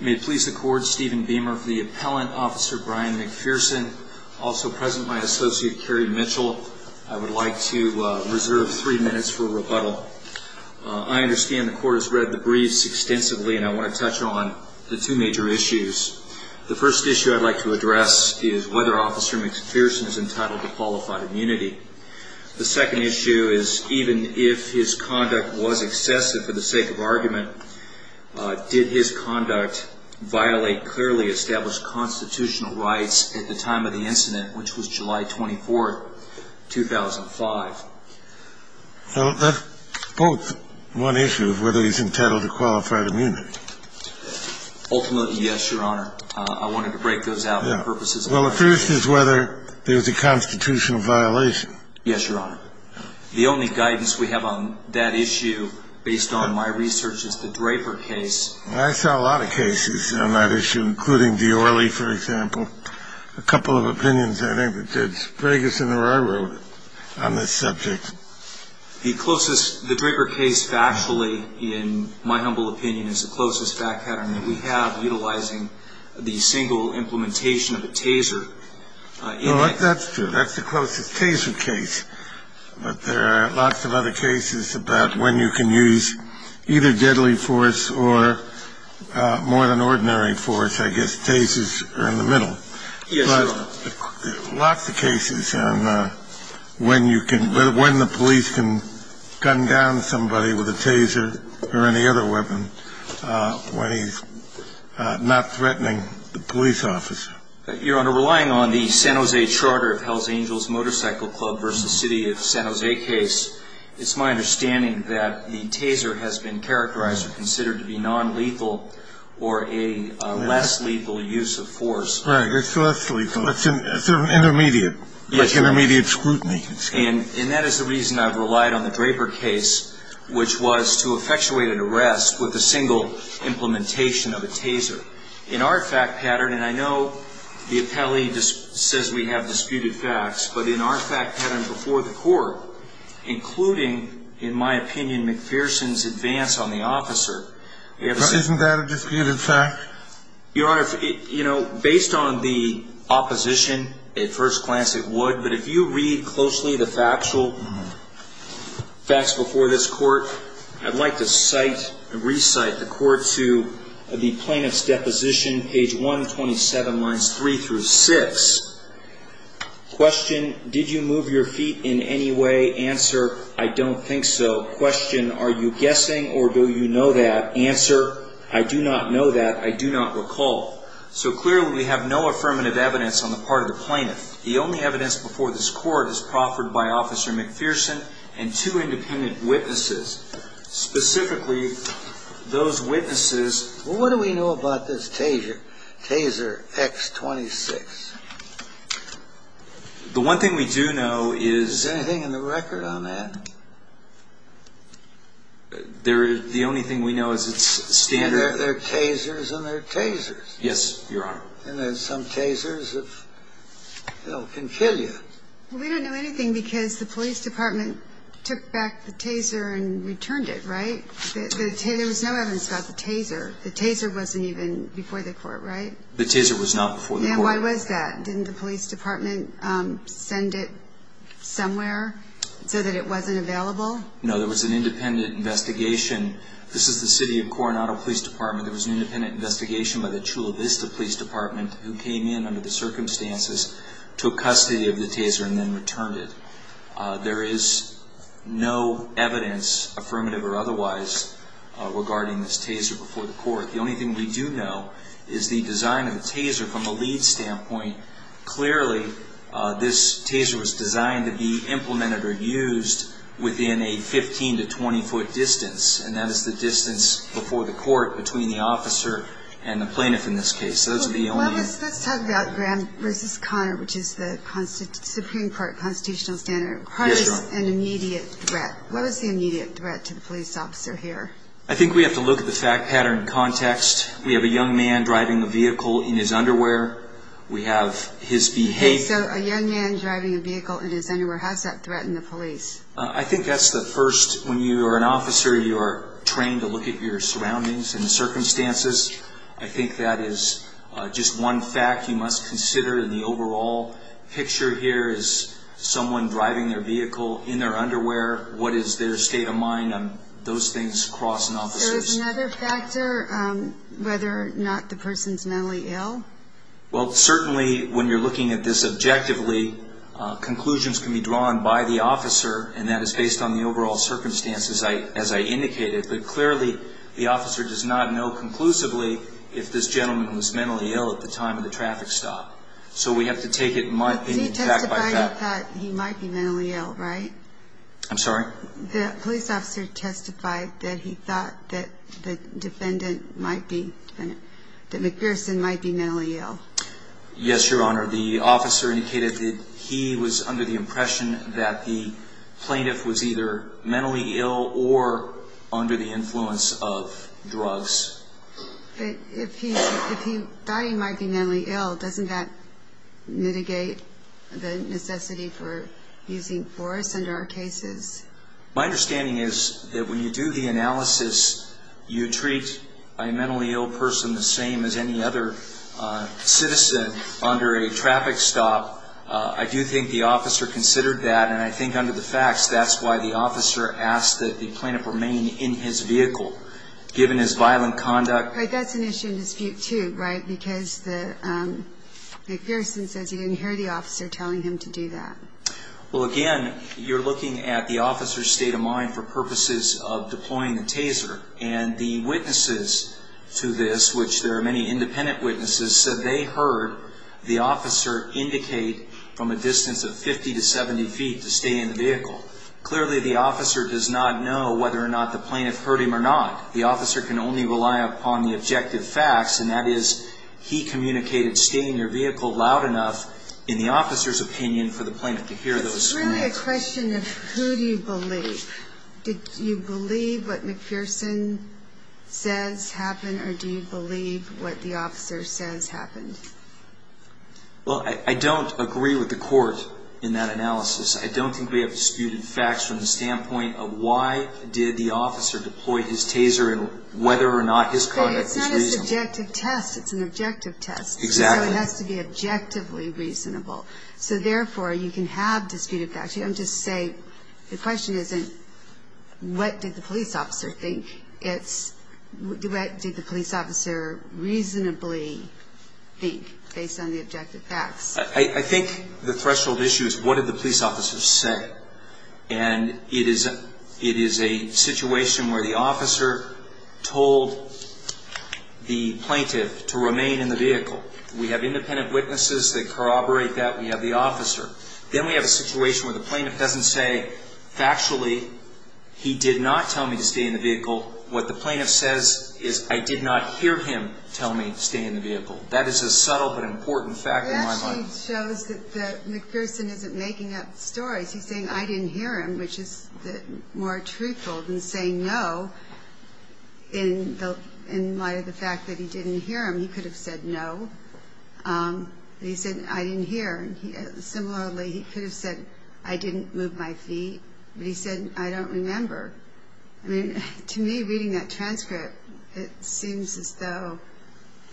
May it please the Court, Stephen Beamer for the appellant, Officer Bryan McPherson. Also present, my associate Kerry Mitchell. I would like to reserve three minutes for rebuttal. I understand the Court has read the briefs extensively and I want to touch on the two major issues. The first issue I'd like to address is whether Officer McPherson is entitled to qualified immunity. The second issue is even if his conduct was excessive for the sake of argument, did his conduct violate clearly established constitutional rights at the time of the incident, which was July 24, 2005? Well, that's both one issue of whether he's entitled to qualified immunity. Ultimately, yes, Your Honor. I wanted to break those out for purposes of argument. Well, the first is whether there's a constitutional violation. Yes, Your Honor. The only guidance we have on that issue, based on my research, is the Draper case. I saw a lot of cases on that issue, including Diorle, for example. A couple of opinions I think that did. Bragus and Roy wrote on this subject. The closest, the Draper case factually, in my humble opinion, is the closest fact pattern that we have, utilizing the single implementation of a taser. No, that's true. That's the closest taser case. But there are lots of other cases about when you can use either deadly force or more than ordinary force. I guess tasers are in the middle. Yes, Your Honor. Lots of cases on when you can, when the police can gun down somebody with a taser or any other weapon when he's not threatening the police officer. Your Honor, relying on the San Jose Charter of Hells Angels Motorcycle Club v. City of San Jose case, it's my understanding that the taser has been characterized or considered to be nonlethal or a less lethal use of force. Right. It's less lethal. It's an intermediate, like intermediate scrutiny. And that is the reason I've relied on the Draper case, which was to effectuate an arrest with a single implementation of a taser. In our fact pattern, and I know the appellee says we have disputed facts, but in our fact pattern before the court, including, in my opinion, McPherson's advance on the officer. Isn't that a disputed fact? Your Honor, you know, based on the opposition, at first glance it would. But if you read closely the factual facts before this court, I'd like to cite and recite the court to the plaintiff's deposition, page 127, lines 3 through 6. Question, did you move your feet in any way? Answer, I don't think so. Question, are you guessing or do you know that? Answer, I do not know that. I do not recall. So clearly we have no affirmative evidence on the part of the plaintiff. The only evidence before this court is proffered by Officer McPherson and two independent witnesses. Specifically, those witnesses. Well, what do we know about this taser, taser X26? The one thing we do know is. Is there anything in the record on that? The only thing we know is it's standard. They're tasers and they're tasers. Yes, Your Honor. And there's some tasers that can kill you. We don't know anything because the police department took back the taser and returned it, right? There was no evidence about the taser. The taser wasn't even before the court, right? The taser was not before the court. And why was that? Didn't the police department send it somewhere so that it wasn't available? No, there was an independent investigation. This is the city of Coronado Police Department. There was an independent investigation by the Chula Vista Police Department who came in under the circumstances, took custody of the taser, and then returned it. There is no evidence, affirmative or otherwise, regarding this taser before the court. The only thing we do know is the design of the taser from a lead standpoint. Clearly, this taser was designed to be implemented or used within a 15 to 20-foot distance, and that is the distance before the court between the officer and the plaintiff in this case. Let's talk about Graham v. Conner, which is the Supreme Court constitutional standard. Conner is an immediate threat. What was the immediate threat to the police officer here? I think we have to look at the fact pattern in context. We have a young man driving a vehicle in his underwear. We have his behavior. So a young man driving a vehicle in his underwear has that threat in the police? I think that's the first. When you are an officer, you are trained to look at your surroundings and circumstances. I think that is just one fact you must consider in the overall picture here is someone driving their vehicle in their underwear. What is their state of mind on those things crossing officers? Is there another factor, whether or not the person is mentally ill? Well, certainly when you are looking at this objectively, conclusions can be drawn by the officer, and that is based on the overall circumstances as I indicated. But clearly the officer does not know conclusively if this gentleman was mentally ill at the time of the traffic stop. So we have to take it back by fact. He testified he thought he might be mentally ill, right? I'm sorry? The police officer testified that he thought that the defendant might be, that McPherson might be mentally ill. Yes, Your Honor. The officer indicated that he was under the impression that the plaintiff was either mentally ill or under the influence of drugs. But if he thought he might be mentally ill, doesn't that mitigate the necessity for using force under our cases? My understanding is that when you do the analysis, you treat a mentally ill person the same as any other citizen under a traffic stop. I do think the officer considered that, and I think under the facts that is why the officer asked that the plaintiff remain in his vehicle. Given his violent conduct. But that's an issue in dispute too, right? Because McPherson says he didn't hear the officer telling him to do that. Well, again, you're looking at the officer's state of mind for purposes of deploying the taser. And the witnesses to this, which there are many independent witnesses, said they heard the officer indicate from a distance of 50 to 70 feet to stay in the vehicle. Clearly, the officer does not know whether or not the plaintiff heard him or not. The officer can only rely upon the objective facts, and that is he communicated stay in your vehicle loud enough in the officer's opinion for the plaintiff to hear those comments. It's really a question of who do you believe. Do you believe what McPherson says happened, or do you believe what the officer says happened? Well, I don't agree with the court in that analysis. I don't think we have disputed facts from the standpoint of why did the officer deploy his taser and whether or not his conduct was reasonable. But it's not an objective test. It's an objective test. Exactly. So it has to be objectively reasonable. So, therefore, you can have disputed facts. You don't just say the question isn't what did the police officer think. It's what did the police officer reasonably think based on the objective facts. I think the threshold issue is what did the police officer say. And it is a situation where the officer told the plaintiff to remain in the vehicle. We have independent witnesses that corroborate that. We have the officer. Then we have a situation where the plaintiff doesn't say factually he did not tell me to stay in the vehicle. What the plaintiff says is I did not hear him tell me to stay in the vehicle. That is a subtle but important fact in my mind. It actually shows that McPherson isn't making up stories. He's saying I didn't hear him, which is more truthful than saying no in light of the fact that he didn't hear him. He could have said no, but he said I didn't hear. Similarly, he could have said I didn't move my feet, but he said I don't remember. To me, reading that transcript, it seems as though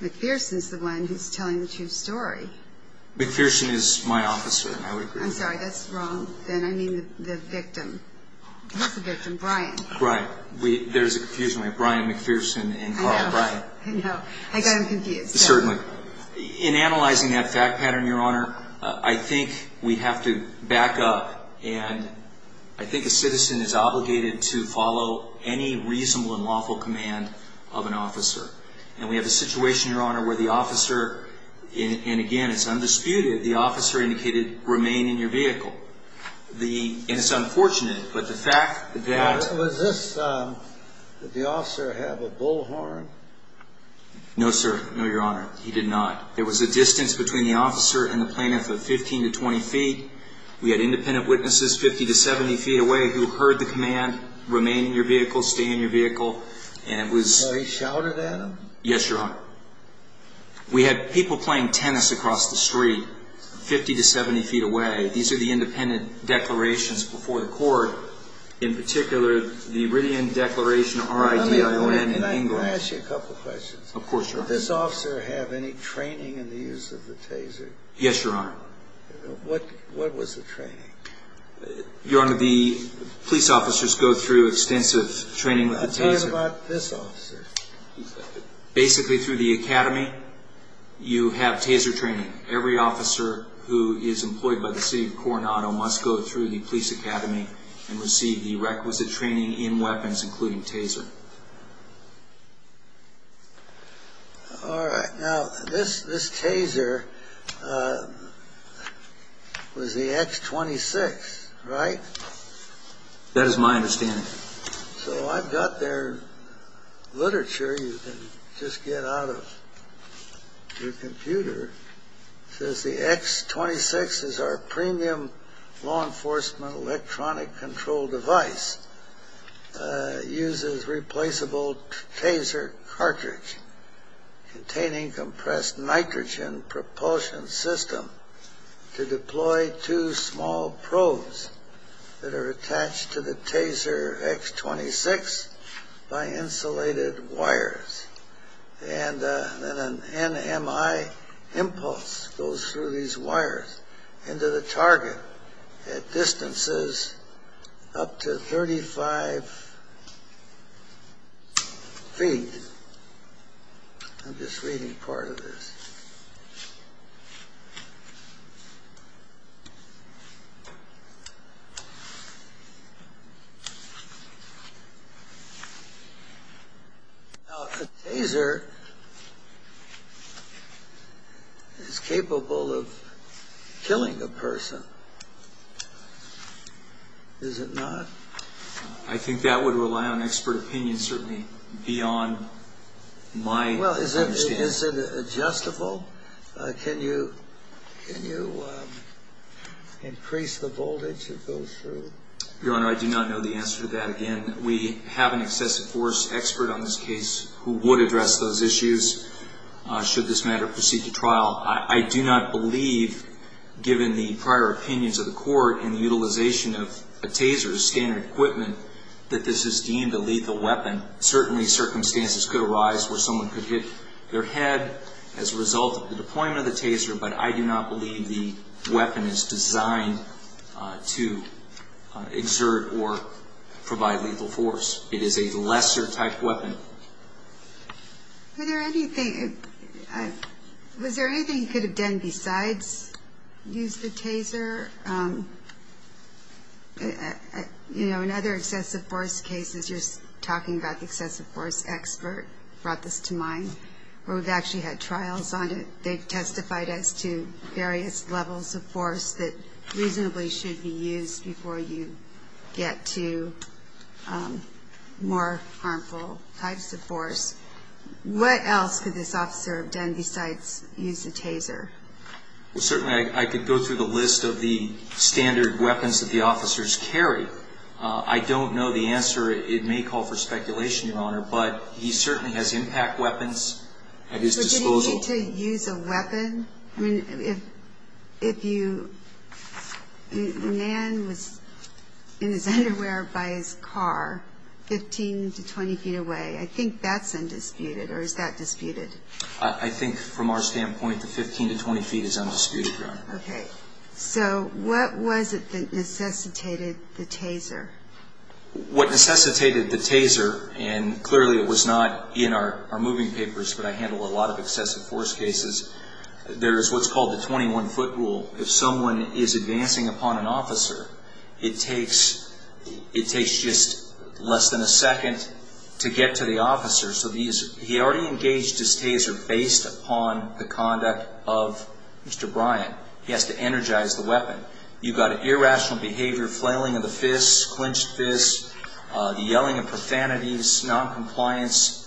McPherson is the one who's telling the true story. McPherson is my officer, and I would agree with that. I'm sorry, that's wrong. Then I mean the victim. Who's the victim? Brian. Right. There's a confusion. We have Brian McPherson and Carl Brian. I know. I got him confused. Certainly. In analyzing that fact pattern, Your Honor, I think we have to back up. And I think a citizen is obligated to follow any reasonable and lawful command of an officer. And we have a situation, Your Honor, where the officer, and again, it's undisputed, the officer indicated remain in your vehicle. And it's unfortunate, but the fact that... Now, was this, did the officer have a bullhorn? No, sir. No, Your Honor. He did not. There was a distance between the officer and the plaintiff of 15 to 20 feet. We had independent witnesses 50 to 70 feet away who heard the command remain in your vehicle, stay in your vehicle. And it was... Oh, he shouted at them? Yes, Your Honor. We had people playing tennis across the street 50 to 70 feet away. These are the independent declarations before the court. In particular, the Iridium Declaration, R-I-D-I-O-N in English. Let me ask you a couple of questions. Of course, Your Honor. Did this officer have any training in the use of the taser? Yes, Your Honor. What was the training? Your Honor, the police officers go through extensive training with the taser. I'm talking about this officer. Basically, through the academy, you have taser training. Every officer who is employed by the city of Coronado must go through the police academy and receive the requisite training in weapons, including taser. All right. Now, this taser was the X-26, right? That is my understanding. So I've got there literature you can just get out of your computer. It says the X-26 is our premium law enforcement electronic control device. It uses replaceable taser cartridge containing compressed nitrogen propulsion system to deploy two small probes that are attached to the taser X-26 by insulated wires. And then an NMI impulse goes through these wires into the target at distances up to 35 feet. I'm just reading part of this. Now, a taser is capable of killing a person, is it not? I think that would rely on expert opinion, certainly, beyond my understanding. Well, is it adjustable? Can you increase the voltage that goes through? Your Honor, I do not know the answer to that. Again, we have an excessive force expert on this case who would address those issues should this matter proceed to trial. I do not believe, given the prior opinions of the court and the utilization of a taser as standard equipment, that this is deemed a lethal weapon. Certainly, circumstances could arise where someone could hit their head as a result of the deployment of the taser, but I do not believe the weapon is designed to exert or provide lethal force. It is a lesser type weapon. Was there anything you could have done besides use the taser? Your Honor, in other excessive force cases, you're talking about the excessive force expert brought this to mind, where we've actually had trials on it. They've testified as to various levels of force that reasonably should be used before you get to more harmful types of force. What else could this officer have done besides use the taser? Certainly, I could go through the list of the standard weapons that the officers carry. I don't know the answer. It may call for speculation, Your Honor, but he certainly has impact weapons at his disposal. Did he need to use a weapon? I mean, if Nan was in his underwear by his car 15 to 20 feet away, I think that's undisputed, or is that disputed? I think, from our standpoint, the 15 to 20 feet is undisputed, Your Honor. Okay. So what was it that necessitated the taser? What necessitated the taser, and clearly it was not in our moving papers, but I handle a lot of excessive force cases, there is what's called the 21-foot rule. If someone is advancing upon an officer, it takes just less than a second to get to the officer. So he already engaged his taser based upon the conduct of Mr. Bryant. He has to energize the weapon. You've got an irrational behavior, flailing of the fists, clenched fists, the yelling of profanities, noncompliance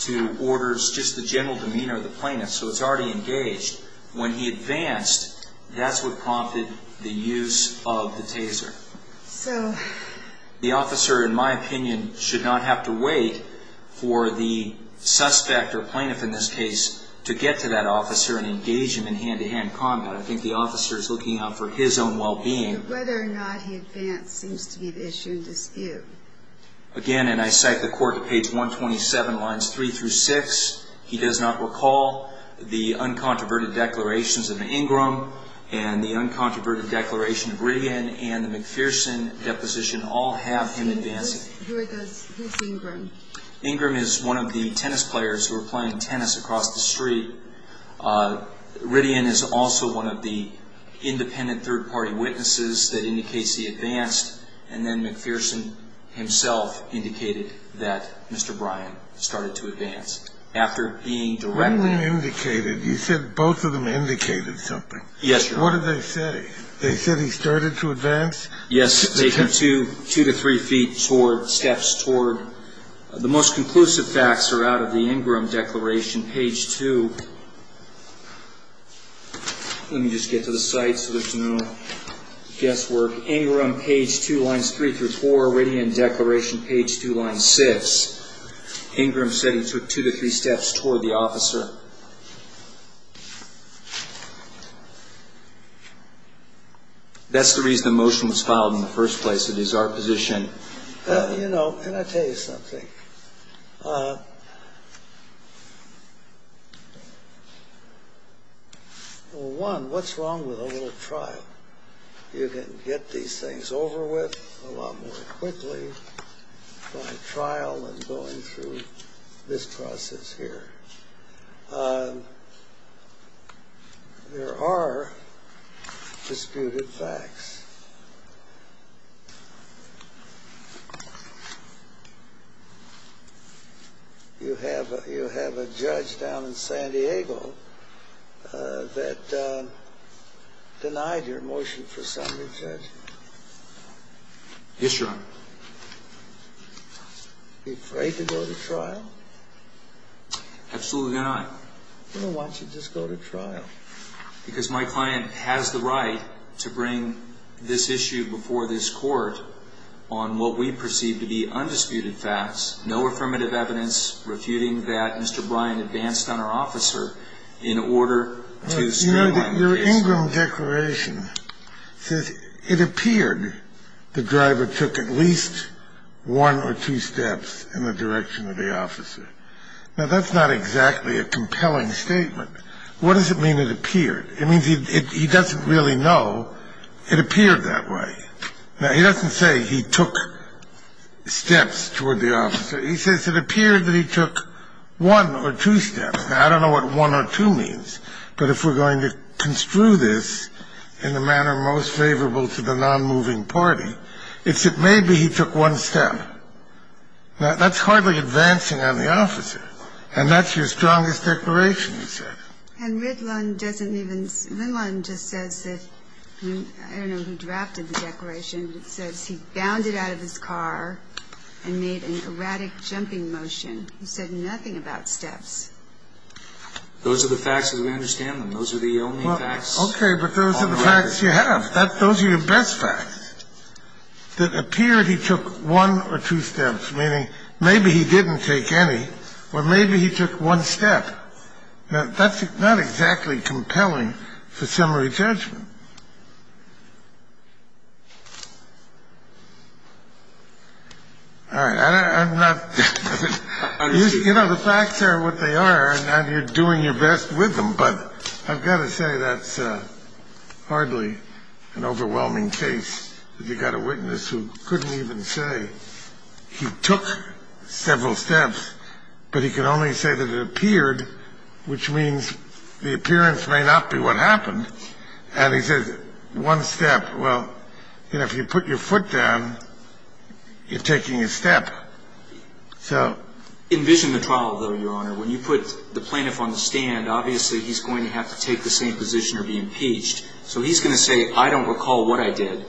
to orders, just the general demeanor of the plaintiff. So it's already engaged. When he advanced, that's what prompted the use of the taser. The officer, in my opinion, should not have to wait for the suspect or plaintiff in this case to get to that officer and engage him in hand-to-hand combat. I think the officer is looking out for his own well-being. Whether or not he advanced seems to be the issue in dispute. Again, and I cite the court at page 127, lines 3 through 6, he does not recall the uncontroverted declarations of Ingram and the uncontroverted declaration of Riddian and the McPherson deposition all have him advancing. Who is Ingram? Ingram is one of the tennis players who are playing tennis across the street. Riddian is also one of the independent third-party witnesses that indicates he advanced, and then McPherson himself indicated that Mr. Bryant started to advance. After being directly indicated. You said both of them indicated something. Yes, sir. What did they say? They said he started to advance? Yes, they took two to three feet toward, steps toward. The most conclusive facts are out of the Ingram declaration, page 2. Let me just get to the site so there's no guesswork. Ingram, page 2, lines 3 through 4. Riddian declaration, page 2, line 6. Ingram said he took two to three steps toward the officer. That's the reason the motion was filed in the first place. It is our position. You know, can I tell you something? One, what's wrong with a little trial? You can get these things over with a lot more quickly by trial than going through this process here. There are disputed facts. You have a judge down in San Diego that denied your motion for summary judgment. Yes, Your Honor. Well, absolutely not. Well, why don't you just go to trial? Because my client has the right to bring this issue before this Court on what we perceive to be undisputed facts, no affirmative evidence refuting that Mr. Bryant advanced on our officer in order to streamline the case. Your Ingram declaration says it appeared the driver took at least one or two steps in the direction of the officer. Now, that's not exactly a compelling statement. What does it mean it appeared? It means he doesn't really know it appeared that way. Now, he doesn't say he took steps toward the officer. He says it appeared that he took one or two steps. Now, I don't know what one or two means, but if we're going to construe this in the manner most favorable to the nonmoving party, it's that maybe he took one step. Now, that's hardly advancing on the officer, and that's your strongest declaration, he said. And Ridlon doesn't even – Ridlon just says that – I don't know who drafted the declaration, but it says he bounded out of his car and made an erratic jumping motion. He said nothing about steps. Those are the facts as we understand them. Those are the only facts on the record. Okay, but those are the facts you have. Those are your best facts that appear he took one or two steps, meaning maybe he didn't take any, or maybe he took one step. Now, that's not exactly compelling for summary judgment. All right. I'm not – you know, the facts are what they are, and you're doing your best with them, But I've got to say that's hardly an overwhelming case. You've got a witness who couldn't even say he took several steps, but he can only say that it appeared, which means the appearance may not be what happened. And he says one step. Well, you know, if you put your foot down, you're taking a step. Envision the trial, though, Your Honor. When you put the plaintiff on the stand, obviously he's going to have to take the same position or be impeached. So he's going to say, I don't recall what I did.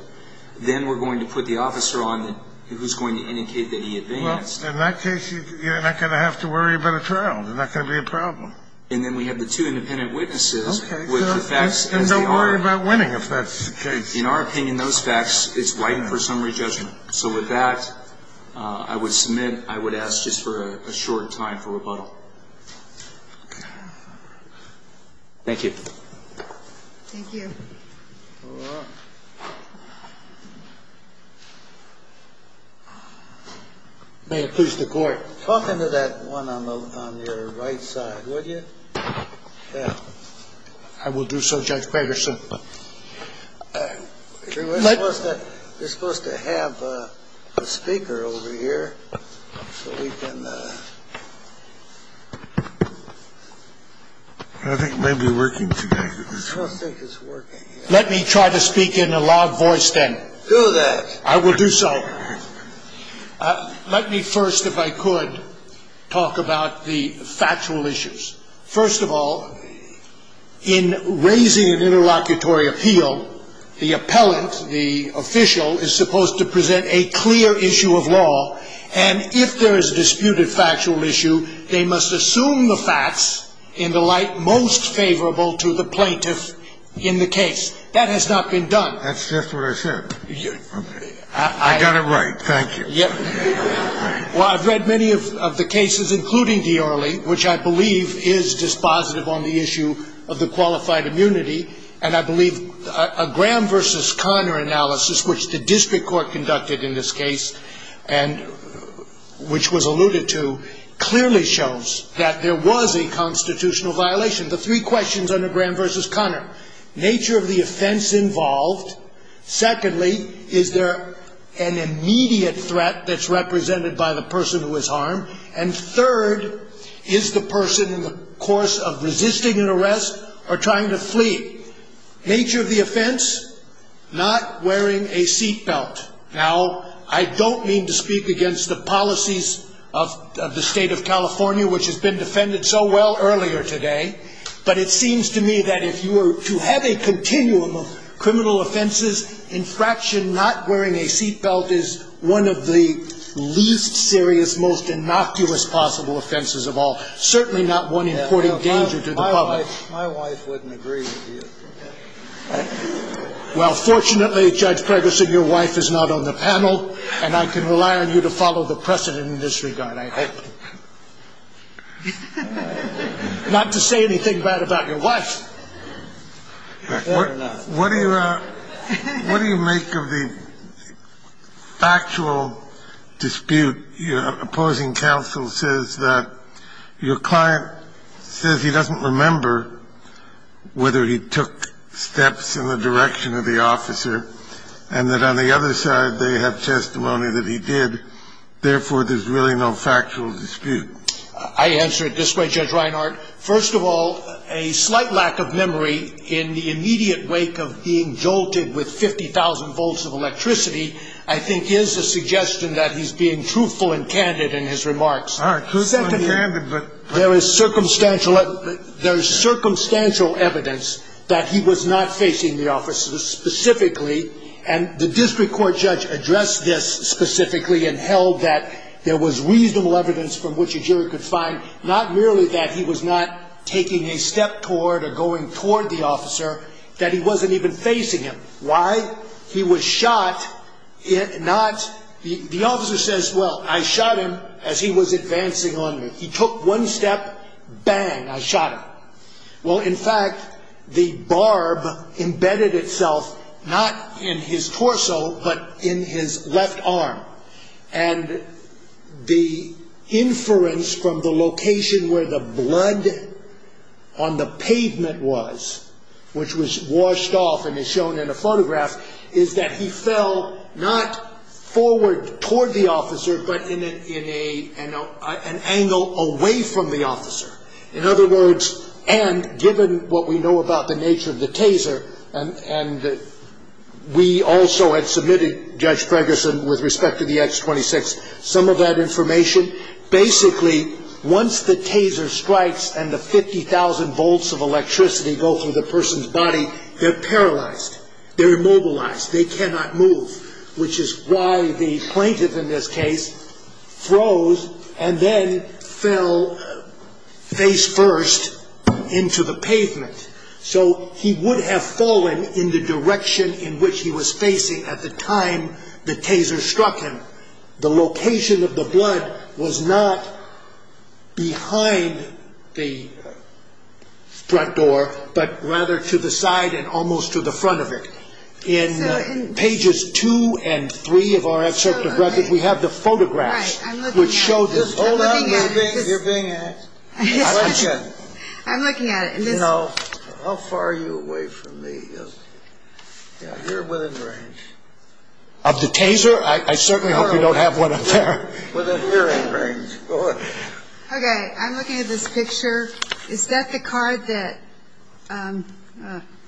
Then we're going to put the officer on who's going to indicate that he advanced. Well, in that case, you're not going to have to worry about a trial. There's not going to be a problem. And then we have the two independent witnesses with the facts as they are. Okay. And don't worry about winning if that's the case. In our opinion, those facts, it's right for summary judgment. So with that, I would submit, I would ask just for a short time for rebuttal. Thank you. Thank you. All right. May it please the Court. Talk into that one on your right side, would you? Yeah. I will do so, Judge Gregerson. We're supposed to have a speaker over here so we can. I think it may be working today. I don't think it's working yet. Let me try to speak in a loud voice then. Do that. I will do so. Let me first, if I could, talk about the factual issues. First of all, in raising an interlocutory appeal, the appellant, the official, is supposed to present a clear issue of law. And if there is a disputed factual issue, they must assume the facts in the light most favorable to the plaintiff in the case. That has not been done. That's just what I said. I got it right. Thank you. Well, I've read many of the cases, including Diorre, which I believe is dispositive on the issue of the qualified immunity. And I believe a Graham v. Conner analysis, which the district court conducted in this case and which was alluded to, clearly shows that there was a constitutional violation. The three questions under Graham v. Conner, nature of the offense involved. Secondly, is there an immediate threat that's represented by the person who is harmed? And third, is the person in the course of resisting an arrest or trying to flee? Nature of the offense, not wearing a seat belt. Now, I don't mean to speak against the policies of the state of California, which has been defended so well earlier today. But it seems to me that if you were to have a continuum of criminal offenses, infraction not wearing a seat belt is one of the least serious, most innocuous possible offenses of all. Certainly not one important danger to the public. My wife wouldn't agree with you. Well, fortunately, Judge Preggerson, your wife is not on the panel, and I can rely on you to follow the precedent in this regard, I hope. Not to say anything bad about your wife. What do you make of the factual dispute? Opposing counsel says that your client says he doesn't remember whether he took steps in the direction of the officer and that on the other side they have testimony that he did, therefore, there's really no factual dispute. I answer it this way, Judge Reinhart. First of all, a slight lack of memory in the immediate wake of being jolted with 50,000 volts of electricity, I think is a suggestion that he's being truthful and candid in his remarks. All right, truthful and candid, but... There is circumstantial evidence that he was not facing the officer specifically, and the district court judge addressed this specifically and held that there was reasonable evidence from which a jury could find not merely that he was not taking a step toward or going toward the officer, that he wasn't even facing him. Why? He was shot, not... The officer says, well, I shot him as he was advancing on me. He took one step, bang, I shot him. Well, in fact, the barb embedded itself not in his torso but in his left arm, and the inference from the location where the blood on the pavement was, which was washed off and is shown in the photograph, is that he fell not forward toward the officer but in an angle away from the officer. In other words, and given what we know about the nature of the taser, and we also had submitted, Judge Ferguson, with respect to the X26, some of that information, basically once the taser strikes and the 50,000 volts of electricity go through the person's body, they're paralyzed, they're immobilized, they cannot move, which is why the plaintiff in this case froze and then fell face first into the pavement. So he would have fallen in the direction in which he was facing at the time the taser struck him. The location of the blood was not behind the front door but rather to the side and almost to the front of it. In pages two and three of our excerpt of records, we have the photographs which show this. Hold on, you're being asked. I'm looking at it. How far are you away from me? You're within range. Of the taser? I certainly hope you don't have one up there. Within hearing range. Okay, I'm looking at this picture. Is that the car that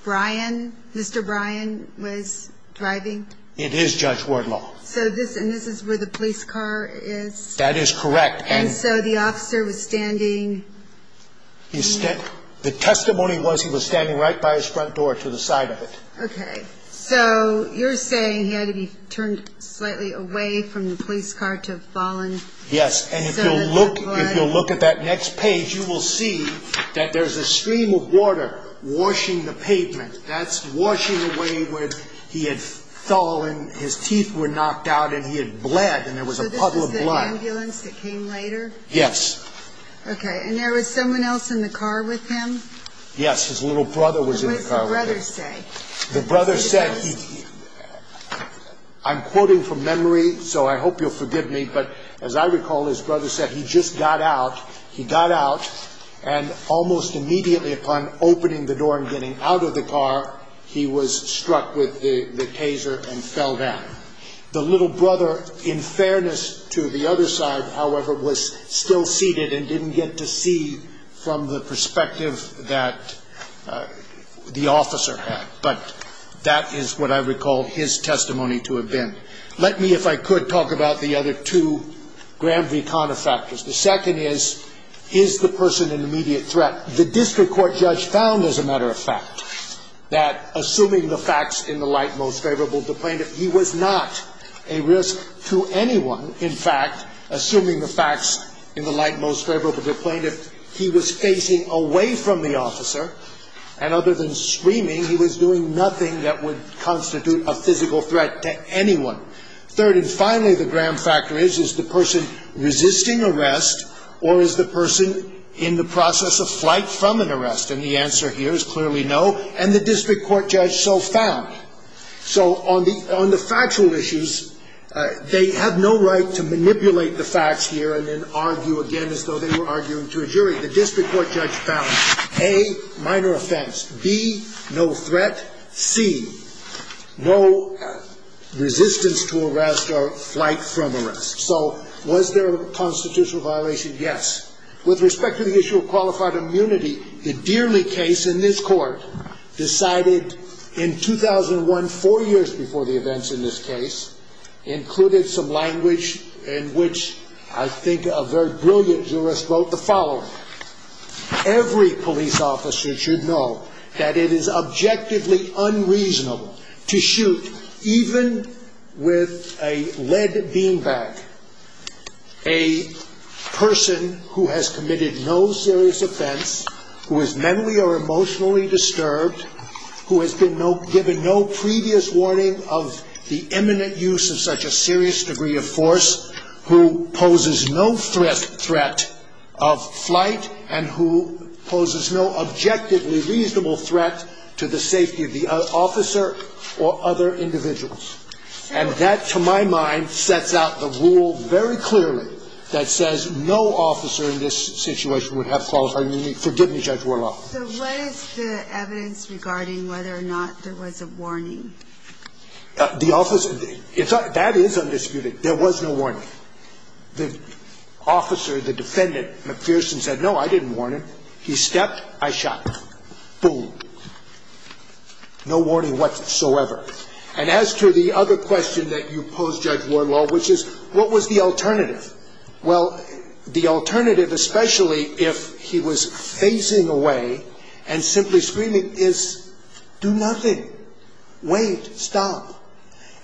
Brian, Mr. Brian, was driving? It is Judge Wardlaw. And this is where the police car is? That is correct. And so the officer was standing? The testimony was he was standing right by his front door to the side of it. Okay, so you're saying he had to be turned slightly away from the police car to have fallen? Yes, and if you'll look at that next page, you will see that there's a stream of water washing the pavement. That's washing away where he had fallen. His teeth were knocked out and he had bled and there was a puddle of blood. So this was the ambulance that came later? Yes. Okay, and there was someone else in the car with him? Yes, his little brother was in the car with him. What did the brother say? The brother said, I'm quoting from memory, so I hope you'll forgive me, but as I recall, his brother said he just got out. He got out and almost immediately upon opening the door and getting out of the car, he was struck with the taser and fell down. The little brother, in fairness to the other side, however, was still seated and didn't get to see from the perspective that the officer had. But that is what I recall his testimony to have been. Let me, if I could, talk about the other two Grand V Conner factors. The second is, is the person an immediate threat? The District Court judge found, as a matter of fact, that assuming the facts in the light most favorable to the plaintiff, he was not a risk to anyone. In fact, assuming the facts in the light most favorable to the plaintiff, he was facing away from the officer. And other than screaming, he was doing nothing that would constitute a physical threat to anyone. Third and finally, the grand factor is, is the person resisting arrest or is the person in the process of flight from an arrest? And the answer here is clearly no. And the District Court judge so found. So on the factual issues, they have no right to manipulate the facts here and then argue again as though they were arguing to a jury. The District Court judge found, A, minor offense. B, no threat. C, no resistance to arrest or flight from arrest. So was there a constitutional violation? Yes. With respect to the issue of qualified immunity, the Deerley case in this court decided in 2001, four years before the events in this case, included some language in which I think a very brilliant jurist wrote the following. Every police officer should know that it is objectively unreasonable to shoot, even with a lead bean bag, a person who has committed no serious offense, who is mentally or emotionally disturbed, who has been given no previous warning of the imminent use of such a serious degree of force, who poses no threat of flight and who poses no objectively reasonable threat to the safety of the officer or other individuals. And that, to my mind, sets out the rule very clearly that says no officer in this situation would have qualified immunity. Forgive me, Judge Warlock. So what is the evidence regarding whether or not there was a warning? The officer – that is undisputed. There was no warning. The officer, the defendant, McPherson, said, no, I didn't warn him. He stepped, I shot him. Boom. No warning whatsoever. And as to the other question that you pose, Judge Warlock, which is what was the alternative? Well, the alternative, especially if he was facing away and simply screaming, is do nothing. Wait. Stop.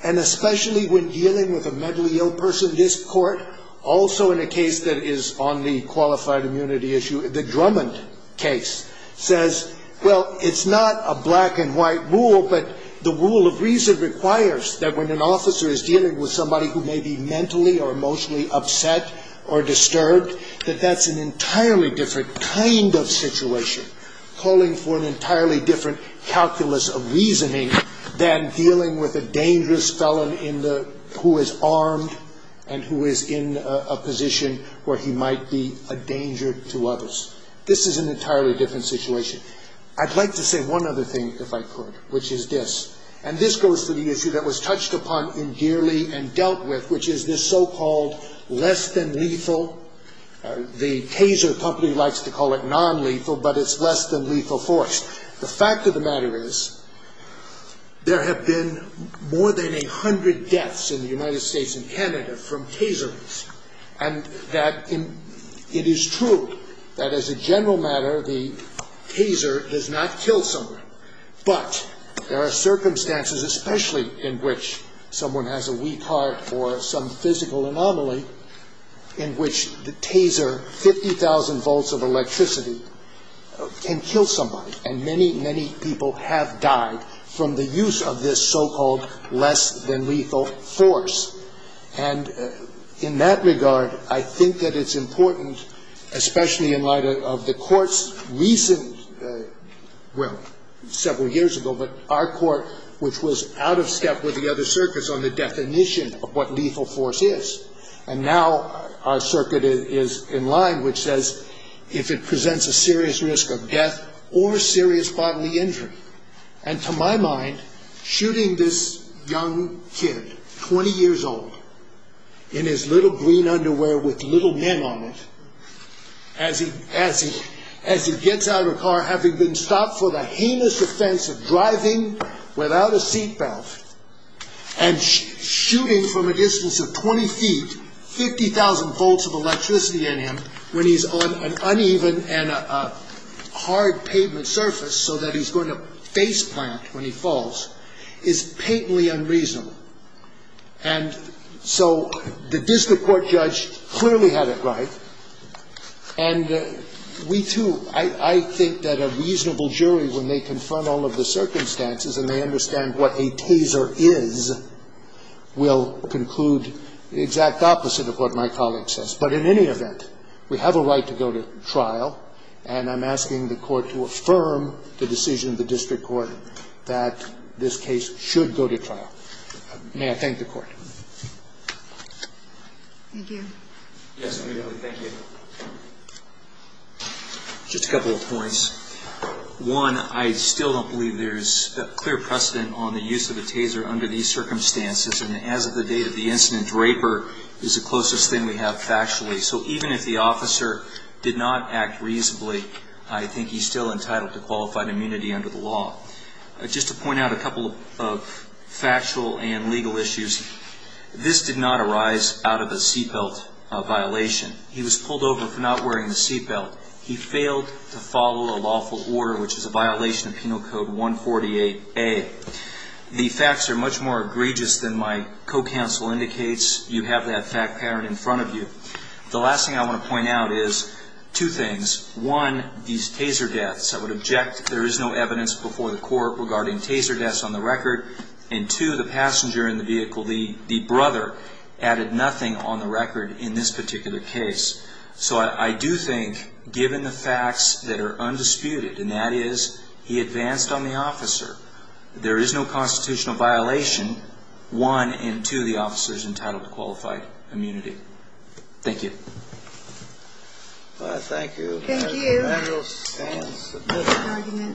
And especially when dealing with a mentally ill person, this court, also in a case that is on the qualified immunity issue, the Drummond case, says, well, it's not a black and white rule, but the rule of reason requires that when an officer is dealing with somebody who may be mentally or emotionally upset or disturbed, that that's an entirely different kind of situation, calling for an entirely different calculus of reasoning than dealing with a dangerous felon in the – who is armed and who is in a position where he might be a danger to others. This is an entirely different situation. I'd like to say one other thing, if I could, which is this. And this goes to the issue that was touched upon endearly and dealt with, which is this so-called less than lethal. The Taser company likes to call it nonlethal, but it's less than lethal force. The fact of the matter is there have been more than a hundred deaths in the United States and Canada from Tasers. And that it is true that as a general matter, the Taser does not kill somebody. But there are circumstances, especially in which someone has a weak heart or some physical anomaly, in which the Taser, 50,000 volts of electricity, can kill somebody. And many, many people have died from the use of this so-called less than lethal force. And in that regard, I think that it's important, especially in light of the court's recent – well, several years ago, but our court, which was out of step with the other circuits on the definition of what lethal force is. And now our circuit is in line, which says if it presents a serious risk of death or serious bodily injury. And to my mind, shooting this young kid, 20 years old, in his little green underwear with little men on it, as he gets out of the car, having been stopped for the heinous offense of driving without a seat belt, and shooting from a distance of 20 feet, 50,000 volts of electricity in him, when he's on an uneven and a hard pavement surface so that he's going to face plant when he falls, is patently unreasonable. And so the district court judge clearly had it right. And we, too, I think that a reasonable jury, when they confront all of the circumstances and they understand what a taser is, will conclude the exact opposite of what my colleague says. But in any event, we have a right to go to trial. And I'm asking the Court to affirm the decision of the district court that this case should go to trial. May I thank the Court. Thank you. Yes, immediately. Thank you. Just a couple of points. One, I still don't believe there's a clear precedent on the use of a taser under these circumstances. And as of the date of the incident, raper is the closest thing we have factually. So even if the officer did not act reasonably, I think he's still entitled to qualified immunity under the law. Just to point out a couple of factual and legal issues, this did not arise out of a seat belt violation. He was pulled over for not wearing the seat belt. He failed to follow a lawful order, which is a violation of Penal Code 148A. The facts are much more egregious than my co-counsel indicates. You have that fact pattern in front of you. The last thing I want to point out is two things. One, these taser deaths. I would object. There is no evidence before the Court regarding taser deaths on the record. And two, the passenger in the vehicle, the brother, added nothing on the record in this particular case. So I do think, given the facts that are undisputed, and that is he advanced on the officer, there is no constitutional violation. One, and two, the officer is entitled to qualified immunity. Thank you. Well, thank you. Thank you. And the manual stands submitted. Thank you. Thank you. Thank you.